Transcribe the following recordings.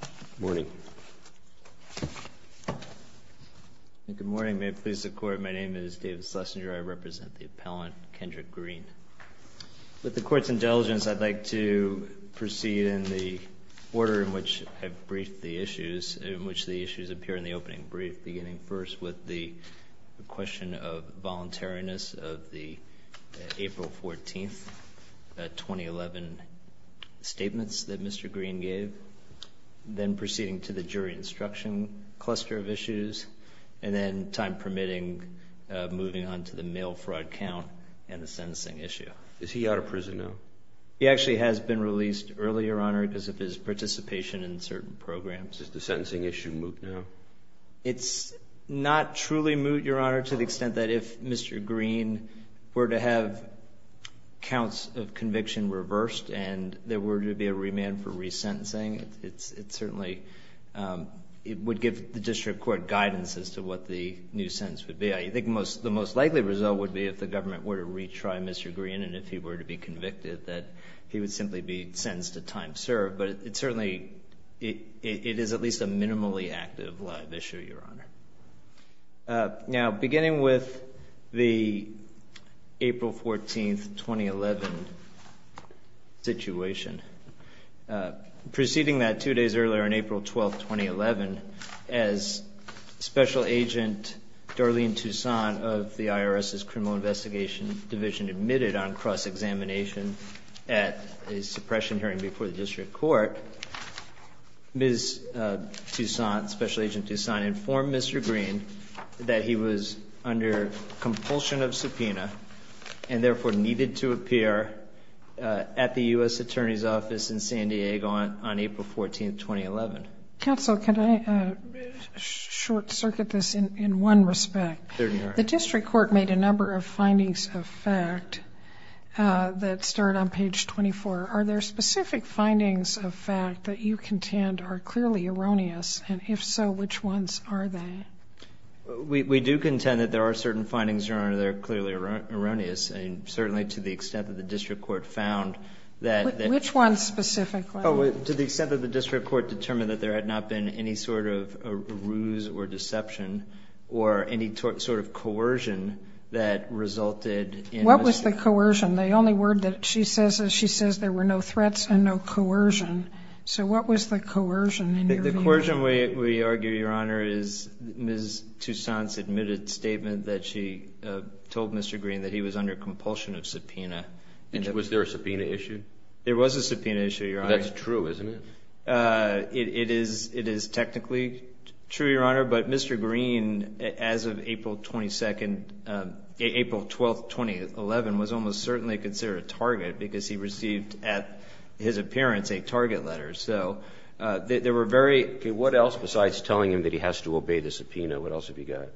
Good morning. Good morning. May it please the Court, my name is David Schlesinger, I represent the appellant Kendrick Green. With the Court's indulgence, I'd like to proceed in the order in which I've briefed the issues, in which the issues appear in the opening brief, beginning first with the question of then proceeding to the jury instruction cluster of issues, and then, time permitting, moving on to the mail fraud count and the sentencing issue. Is he out of prison now? He actually has been released earlier, Your Honor, because of his participation in certain programs. Is the sentencing issue moot now? It's not truly moot, Your Honor, to the extent that if Mr. Green were to have counts of conviction reversed, and there were to be a remand for resentencing, it certainly would give the District Court guidance as to what the new sentence would be. I think the most likely result would be if the government were to retry Mr. Green, and if he were to be convicted, that he would simply be sentenced to time served. But it certainly, it is at least a minimally active live issue, Your Honor. Now, beginning with the April 14, 2011, situation, proceeding that two days earlier, on April 12, 2011, as Special Agent Darlene Toussaint of the IRS's Criminal Investigation Division admitted on cross-examination at a suppression hearing before the District Court, Ms. Toussaint, Special Agent Toussaint, informed Mr. Green that he was under compulsion of subpoena and therefore needed to appear at the U.S. Attorney's Office in San Diego on April 14, 2011. Counsel, can I short-circuit this in one respect? Certainly, Your Honor. The District Court made a number of findings of fact that start on page 24. Are there specific findings of fact that you contend are clearly erroneous, and if so, which ones are they? We do contend that there are certain findings, Your Honor, that are clearly erroneous, and certainly to the extent that the District Court found that- Which ones specifically? To the extent that the District Court determined that there had not been any sort of a ruse or deception or any sort of coercion that resulted in- What was the coercion? The only word that she says is she says there were no threats and no coercion. So what was the coercion in your view? The coercion, we argue, Your Honor, is Ms. Toussaint's admitted statement that she told Mr. Green that he was under compulsion of subpoena. And was there a subpoena issue? There was a subpoena issue, Your Honor. That's true, isn't it? It is technically true, Your Honor, but Mr. Green, as of April 22nd, April 12th, 2011, was almost certainly considered a target because he received at his appearance a target letter. So there were very- Okay, what else besides telling him that he has to obey the subpoena, what else have you got?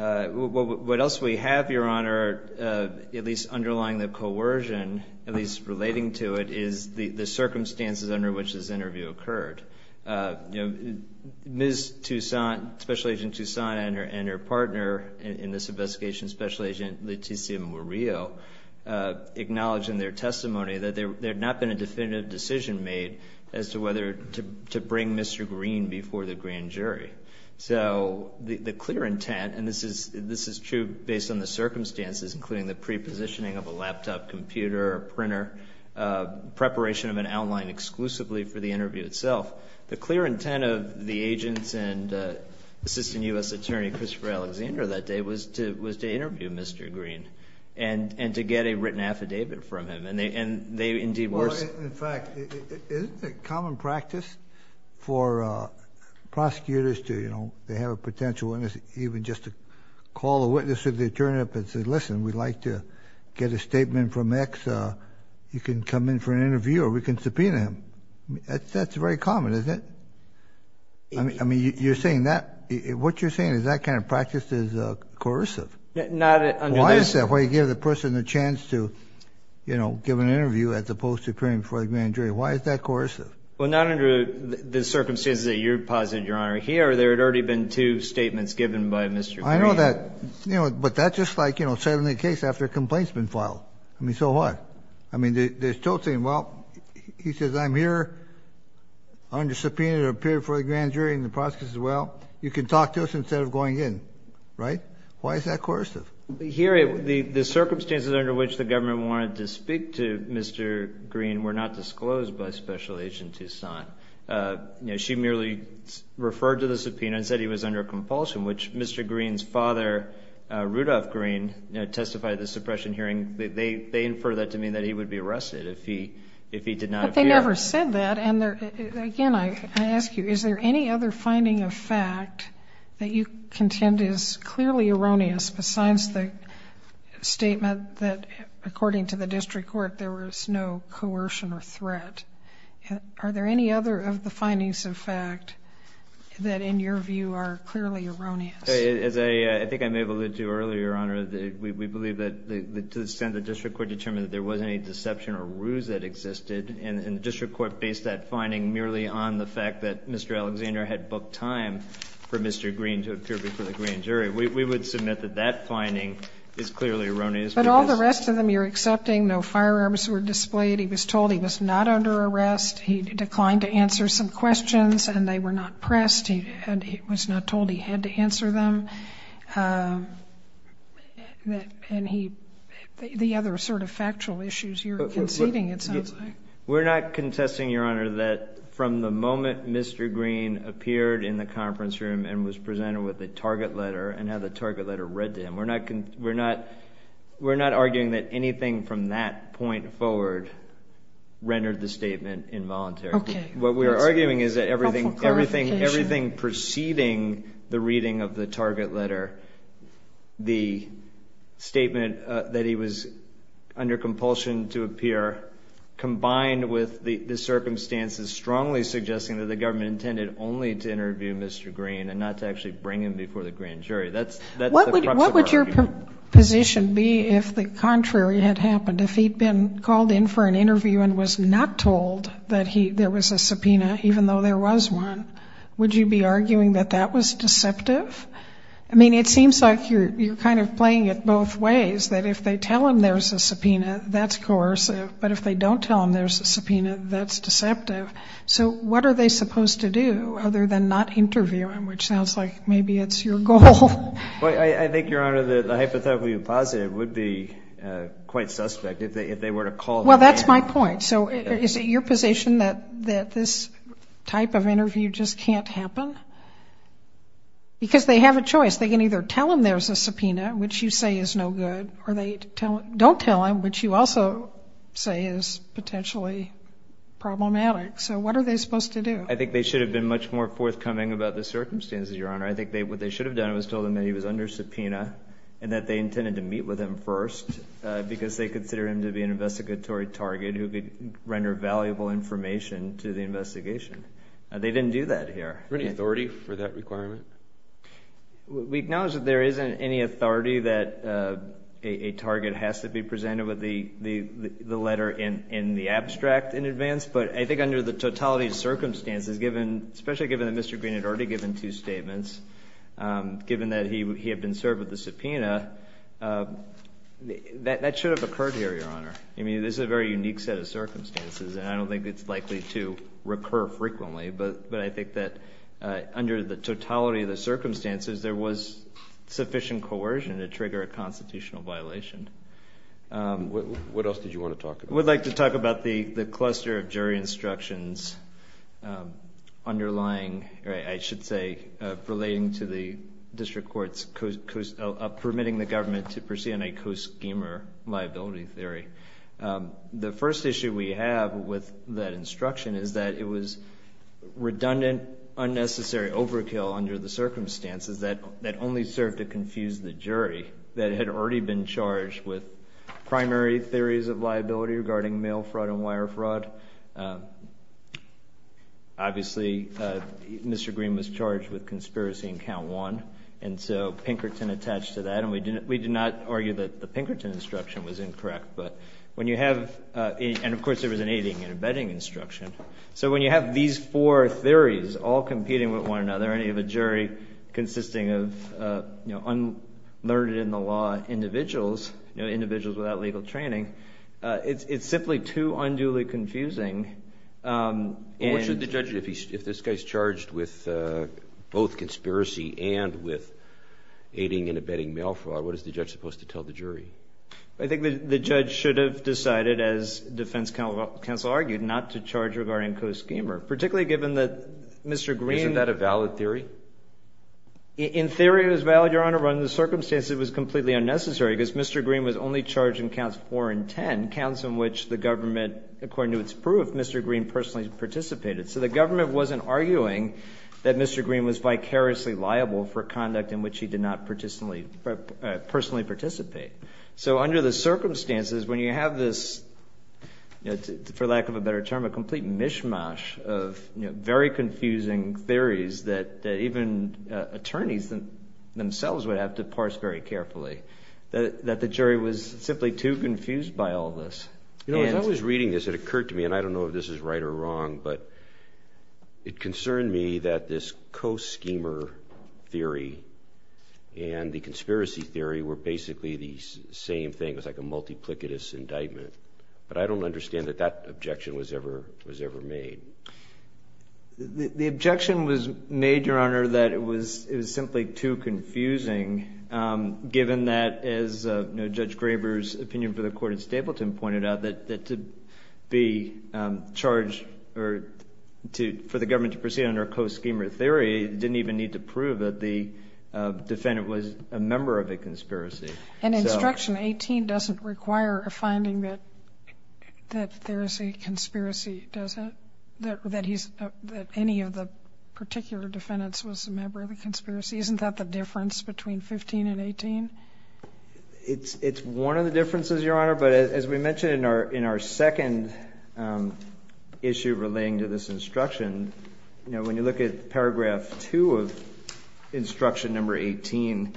What else we have, Your Honor, at least underlying the coercion, at least relating to it, is the circumstances under which this interview occurred. Ms. Toussaint, Special Agent Toussaint and her partner in this investigation, Special Agent Leticia Murillo, acknowledged in their testimony that there had not been a definitive decision made as to whether to bring Mr. Green before the grand jury. So the clear intent, and this is true based on the circumstances, including the pre-positioning of a laptop computer or printer, preparation of an outline exclusively for the interview itself, the clear intent of the agents and Assistant U.S. Attorney Christopher Alexander that day was to interview Mr. Green and to get a written affidavit from him. Well, in fact, isn't it common practice for prosecutors to, you know, they have a potential witness, even just to call a witness to the attorney up and say, listen, we'd like to get a statement from X, you can come in for an interview or we can subpoena him. That's very common, isn't it? I mean, you're saying that, what you're saying is that kind of practice is coercive. Why is that? Why do you give the person the chance to, you know, give an interview as opposed to appearing before the grand jury? Why is that coercive? Well, not under the circumstances that you're positing, Your Honor. Here, there had already been two statements given by Mr. Green. I know that, you know, but that's just like, you know, settling a case after a complaint's been filed. I mean, so what? I mean, there's Toussaint, well, he says, I'm here, I'm going to subpoena you to appear before the grand jury, and the prosecutor says, well, you can talk to us instead of going in. Right? Why is that coercive? Here, the circumstances under which the government wanted to speak to Mr. Green were not disclosed by Special Agent Toussaint. You know, she merely referred to the subpoena and said he was under compulsion, which Mr. Green's father, Rudolph Green, testified at the suppression hearing. They infer that to mean that he would be arrested if he did not appear. I never said that, and again, I ask you, is there any other finding of fact that you contend is clearly erroneous, besides the statement that, according to the district court, there was no coercion or threat? Are there any other of the findings of fact that, in your view, are clearly erroneous? As I think I may have alluded to earlier, Your Honor, we believe that to the extent the district court determined that there was any deception or ruse that existed, and the district court based that finding merely on the fact that Mr. Alexander had booked time for Mr. Green to appear before the grand jury. We would submit that that finding is clearly erroneous. But all the rest of them you're accepting. No firearms were displayed. He was told he was not under arrest. He declined to answer some questions, and they were not pressed. He was not told he had to answer them. And the other sort of factual issues you're conceding, it sounds like. We're not contesting, Your Honor, that from the moment Mr. Green appeared in the conference room and was presented with the target letter and had the target letter read to him, we're not arguing that anything from that point forward rendered the statement involuntary. Okay. What we are arguing is that everything preceding the reading of the target letter the statement that he was under compulsion to appear combined with the circumstances strongly suggesting that the government intended only to interview Mr. Green and not to actually bring him before the grand jury. What would your position be if the contrary had happened? If he'd been called in for an interview and was not told that there was a subpoena, even though there was one, would you be arguing that that was deceptive? I mean, it seems like you're kind of playing it both ways, that if they tell him there's a subpoena, that's coercive, but if they don't tell him there's a subpoena, that's deceptive. So what are they supposed to do other than not interview him, which sounds like maybe it's your goal? I think, Your Honor, the hypothetically positive would be quite suspect if they were to call him in. Well, that's my point. So is it your position that this type of interview just can't happen? Because they have a choice. They can either tell him there's a subpoena, which you say is no good, or they don't tell him, which you also say is potentially problematic. So what are they supposed to do? I think they should have been much more forthcoming about the circumstances, Your Honor. I think what they should have done was told him that he was under subpoena and that they intended to meet with him first because they consider him to be an investigatory target who could render valuable information to the investigation. They didn't do that here. Is there any authority for that requirement? We acknowledge that there isn't any authority that a target has to be presented with the letter in the abstract in advance, but I think under the totality of circumstances, especially given that Mr. Green had already given two statements, given that he had been served with the subpoena, that should have occurred here, Your Honor. I mean, this is a very unique set of circumstances, and I don't think it's likely to recur frequently, but I think that under the totality of the circumstances, there was sufficient coercion to trigger a constitutional violation. What else did you want to talk about? I would like to talk about the cluster of jury instructions underlying, or I should say, relating to the district court's permitting the government to proceed on a co-schemer liability theory. The first issue we have with that instruction is that it was redundant, unnecessary overkill under the circumstances that only served to confuse the jury that had already been charged with primary theories of liability regarding mail fraud and wire fraud. Obviously, Mr. Green was charged with conspiracy in count one, and so Pinkerton attached to that, and we did not argue that the Pinkerton instruction was incorrect. And, of course, there was an aiding and abetting instruction. So when you have these four theories all competing with one another, and you have a jury consisting of unlearned-in-the-law individuals, individuals without legal training, it's simply too unduly confusing. Well, what should the judge do if this guy's charged with both conspiracy and with aiding and abetting mail fraud? What is the judge supposed to tell the jury? I think the judge should have decided, as defense counsel argued, not to charge regarding co-schemer, particularly given that Mr. Green... Isn't that a valid theory? In theory, it was valid, Your Honor, but under the circumstances, it was completely unnecessary because Mr. Green was only charged in counts four and ten, counts in which the government, according to its proof, Mr. Green personally participated. So the government wasn't arguing that Mr. Green was vicariously liable for conduct in which he did not personally participate. So under the circumstances, when you have this, for lack of a better term, a complete mishmash of very confusing theories that even attorneys themselves would have to parse very carefully, that the jury was simply too confused by all this. As I was reading this, it occurred to me, and I don't know if this is right or wrong, but it concerned me that this co-schemer theory and the conspiracy theory were basically the same thing. It was like a multiplicitous indictment. But I don't understand that that objection was ever made. The objection was made, Your Honor, that it was simply too confusing, given that, as Judge Graber's opinion for the court in Stapleton pointed out, that to be charged for the government to proceed under a co-schemer theory didn't even need to prove that the defendant was a member of a conspiracy. And Instruction 18 doesn't require a finding that there is a conspiracy, does it? That any of the particular defendants was a member of a conspiracy. Isn't that the difference between 15 and 18? It's one of the differences, Your Honor. But as we mentioned in our second issue relating to this instruction, when you look at Paragraph 2 of Instruction 18,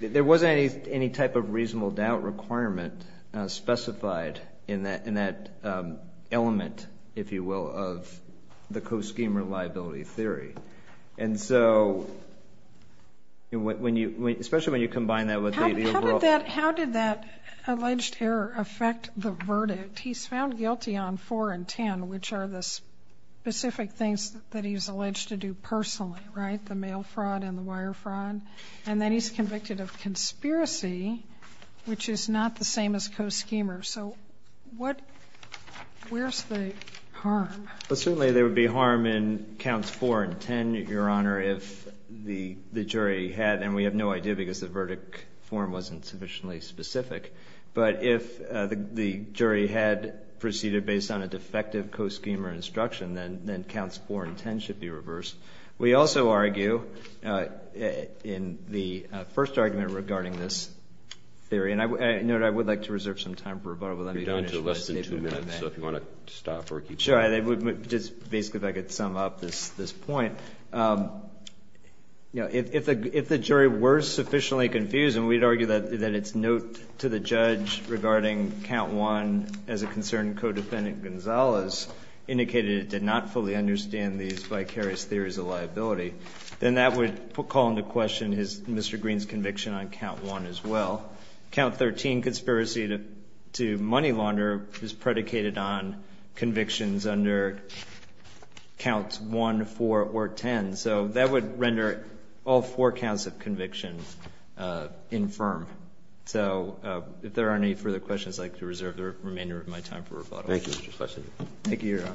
there wasn't any type of reasonable doubt requirement specified in that element, if you will, of the co-schemer liability theory. And so, especially when you combine that with the overall- How did that alleged error affect the verdict? He's found guilty on 4 and 10, which are the specific things that he's alleged to do personally, right? The mail fraud and the wire fraud. And then he's convicted of conspiracy, which is not the same as co-schemer. So where's the harm? Well, certainly there would be harm in Counts 4 and 10, Your Honor, if the jury had- and we have no idea because the verdict form wasn't sufficiently specific- but if the jury had proceeded based on a defective co-schemer instruction, then Counts 4 and 10 should be reversed. We also argue in the first argument regarding this theory- and I would like to reserve some time for rebuttal. You're down to less than two minutes, so if you want to stop or keep going. Sure. Just basically if I could sum up this point. If the jury were sufficiently confused- and we'd argue that it's note to the judge regarding Count 1 as a concern and Co-Defendant Gonzalez indicated it did not fully understand these vicarious theories of liability- then that would call into question Mr. Green's conviction on Count 1 as well. Count 13, conspiracy to money launder, is predicated on convictions under Counts 1, 4, or 10. So that would render all four counts of conviction infirm. So if there aren't any further questions, I'd like to reserve the remainder of my time for rebuttal. Thank you, Mr. Schlesinger. Thank you, Your Honor.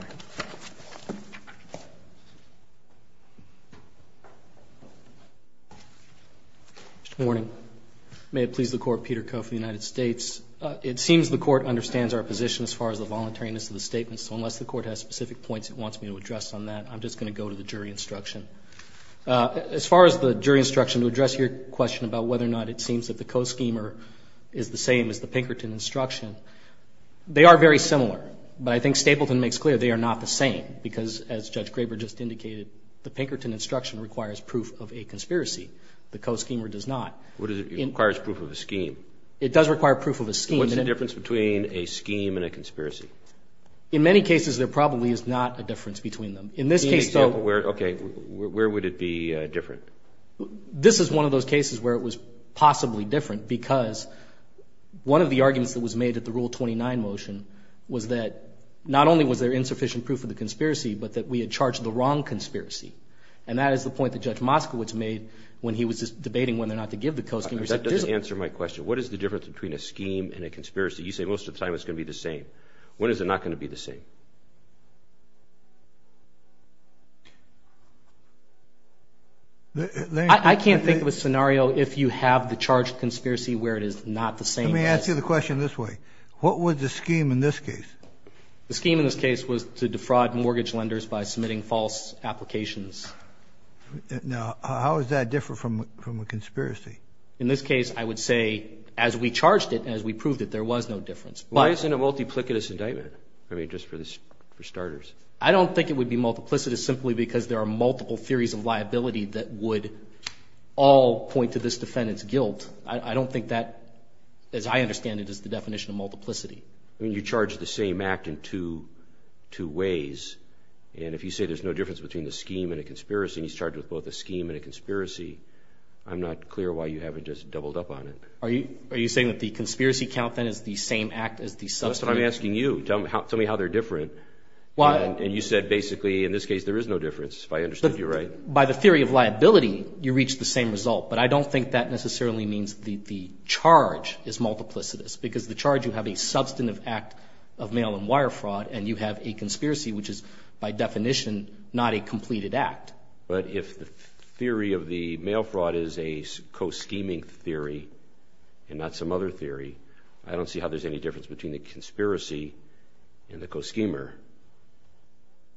Good morning. May it please the Court, Peter Coe for the United States. It seems the Court understands our position as far as the voluntariness of the statement, so unless the Court has specific points it wants me to address on that, I'm just going to go to the jury instruction. As far as the jury instruction, to address your question about whether or not it seems that the Co-Schemer is the same as the Pinkerton instruction, they are very similar, but I think Stapleton makes clear they are not the same, because as Judge Graber just indicated, the Pinkerton instruction requires proof of a conspiracy. The Co-Schemer does not. It requires proof of a scheme. It does require proof of a scheme. What's the difference between a scheme and a conspiracy? In many cases, there probably is not a difference between them. In this case, though- Okay, where would it be different? This is one of those cases where it was possibly different, because one of the arguments that was made at the Rule 29 motion was that not only was there insufficient proof of the conspiracy, but that we had charged the wrong conspiracy, and that is the point that Judge Moskowitz made when he was debating whether or not to give the Co-Schemer. That doesn't answer my question. What is the difference between a scheme and a conspiracy? You say most of the time it's going to be the same. When is it not going to be the same? I can't think of a scenario if you have the charged conspiracy where it is not the same. Let me ask you the question this way. What was the scheme in this case? The scheme in this case was to defraud mortgage lenders by submitting false applications. Now, how is that different from a conspiracy? In this case, I would say as we charged it and as we proved it, there was no difference. Why isn't it a multiplicitous indictment? I mean, just for the sake of it. I don't think it would be multiplicitous simply because there are multiple theories of liability that would all point to this defendant's guilt. I don't think that, as I understand it, is the definition of multiplicity. I mean, you charged the same act in two ways, and if you say there's no difference between a scheme and a conspiracy, and he's charged with both a scheme and a conspiracy, I'm not clear why you haven't just doubled up on it. Are you saying that the conspiracy count, then, is the same act as the suspect? That's what I'm asking you. Tell me how they're different. And you said, basically, in this case, there is no difference, if I understood you right. By the theory of liability, you reach the same result, but I don't think that necessarily means the charge is multiplicitous because the charge, you have a substantive act of mail and wire fraud, and you have a conspiracy, which is, by definition, not a completed act. But if the theory of the mail fraud is a co-scheming theory and not some other theory, I don't see how there's any difference between the conspiracy and the co-schemer.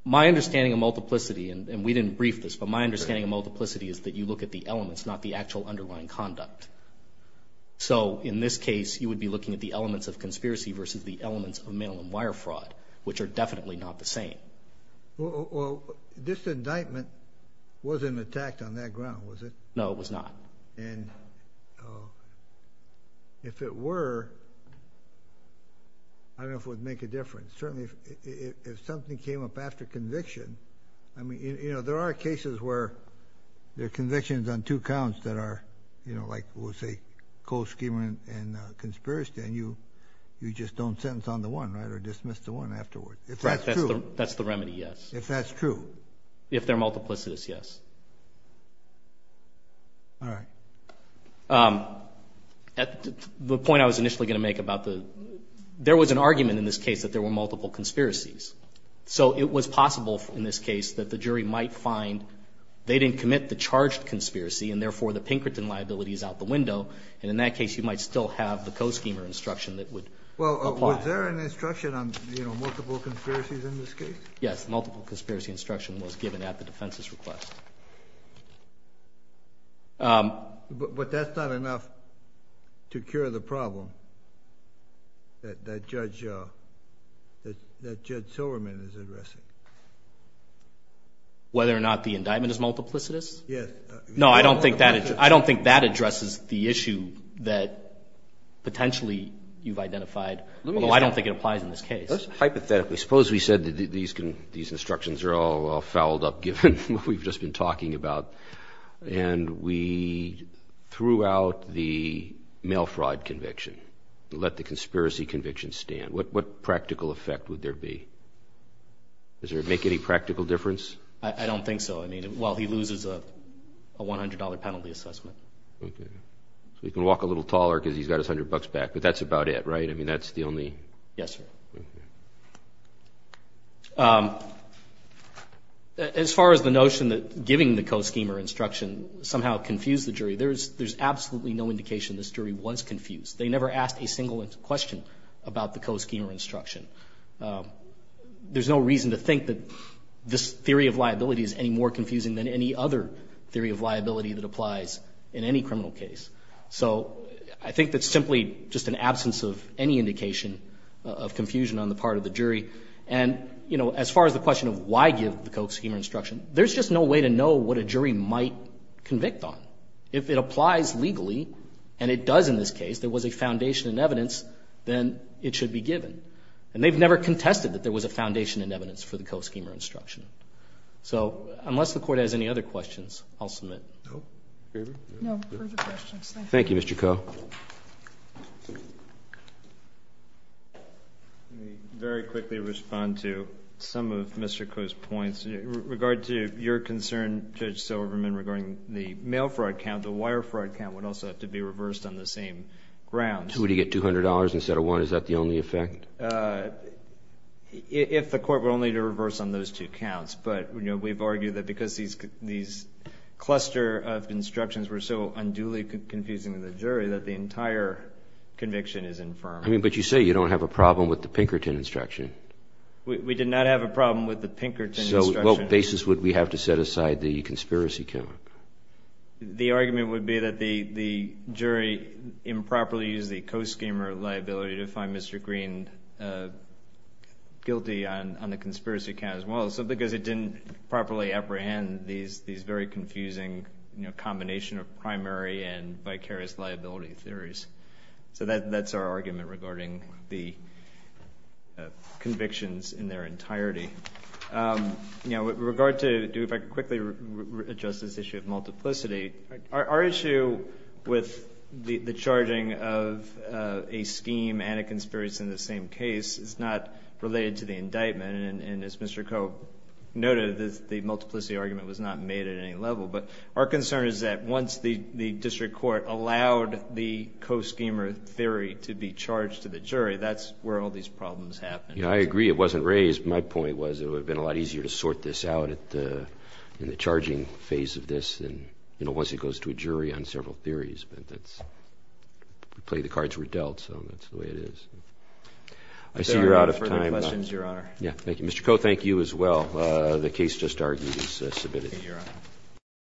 My understanding of multiplicity, and we didn't brief this, but my understanding of multiplicity is that you look at the elements, not the actual underlying conduct. So, in this case, you would be looking at the elements of conspiracy versus the elements of mail and wire fraud, which are definitely not the same. Well, this indictment wasn't attacked on that ground, was it? No, it was not. And if it were, I don't know if it would make a difference. Certainly, if something came up after conviction, I mean, you know, there are cases where there are convictions on two counts that are, you know, like we'll say co-scheming and conspiracy, and you just don't sentence on the one, right, or dismiss the one afterwards. If that's true. That's the remedy, yes. If that's true. If they're multiplicitous, yes. All right. The point I was initially going to make about the – there was an argument in this case that there were multiple conspiracies. So it was possible in this case that the jury might find they didn't commit the charged conspiracy, and therefore the Pinkerton liability is out the window. And in that case, you might still have the co-schemer instruction that would apply. Well, was there an instruction on, you know, multiple conspiracies in this case? Yes. Multiple conspiracy instruction was given at the defense's request. But that's not enough to cure the problem that Judge Silverman is addressing. Whether or not the indictment is multiplicitous? Yes. No, I don't think that addresses the issue that potentially you've identified, although I don't think it applies in this case. Hypothetically, suppose we said that these instructions are all fouled up, given what we've just been talking about, and we threw out the mail fraud conviction and let the conspiracy conviction stand. What practical effect would there be? Does it make any practical difference? I don't think so. I mean, well, he loses a $100 penalty assessment. Okay. So he can walk a little taller because he's got his 100 bucks back. But that's about it, right? I mean, that's the only – Yes, sir. As far as the notion that giving the co-schemer instruction somehow confused the jury, there's absolutely no indication this jury was confused. They never asked a single question about the co-schemer instruction. There's no reason to think that this theory of liability is any more confusing than any other theory of liability that applies in any criminal case. So I think that's simply just an absence of any indication of confusion on the part of the jury. And, you know, as far as the question of why give the co-schemer instruction, there's just no way to know what a jury might convict on. If it applies legally, and it does in this case, there was a foundation in evidence, then it should be given. And they've never contested that there was a foundation in evidence for the co-schemer instruction. So unless the Court has any other questions, I'll submit. No further questions. Thank you, Mr. Koh. Let me very quickly respond to some of Mr. Koh's points. In regard to your concern, Judge Silverman, regarding the mail fraud count, the wire fraud count would also have to be reversed on the same grounds. Would he get $200 instead of one? Is that the only effect? If the Court were only to reverse on those two counts. But, you know, we've argued that because these cluster of instructions were so unduly confusing to the jury, that the entire conviction is infirmed. I mean, but you say you don't have a problem with the Pinkerton instruction. We did not have a problem with the Pinkerton instruction. So what basis would we have to set aside the conspiracy count? The argument would be that the jury improperly used the co-schemer liability to find Mr. Green guilty on the conspiracy count as well. So because it didn't properly apprehend these very confusing, you know, combination of primary and vicarious liability theories. So that's our argument regarding the convictions in their entirety. You know, with regard to, if I could quickly address this issue of multiplicity, our issue with the charging of a scheme and a conspiracy in the same case is not related to the indictment. And as Mr. Cope noted, the multiplicity argument was not made at any level. But our concern is that once the district court allowed the co-schemer theory to be charged to the jury, that's where all these problems happen. Yeah, I agree it wasn't raised. My point was it would have been a lot easier to sort this out in the charging phase of this than, you know, once it goes to a jury on several theories. But that's the way the cards were dealt, so that's the way it is. I see you're out of time. If there are no further questions, Your Honor. Yeah, thank you. Mr. Cope, thank you as well. The case just argued is submitted. Thank you, Your Honor.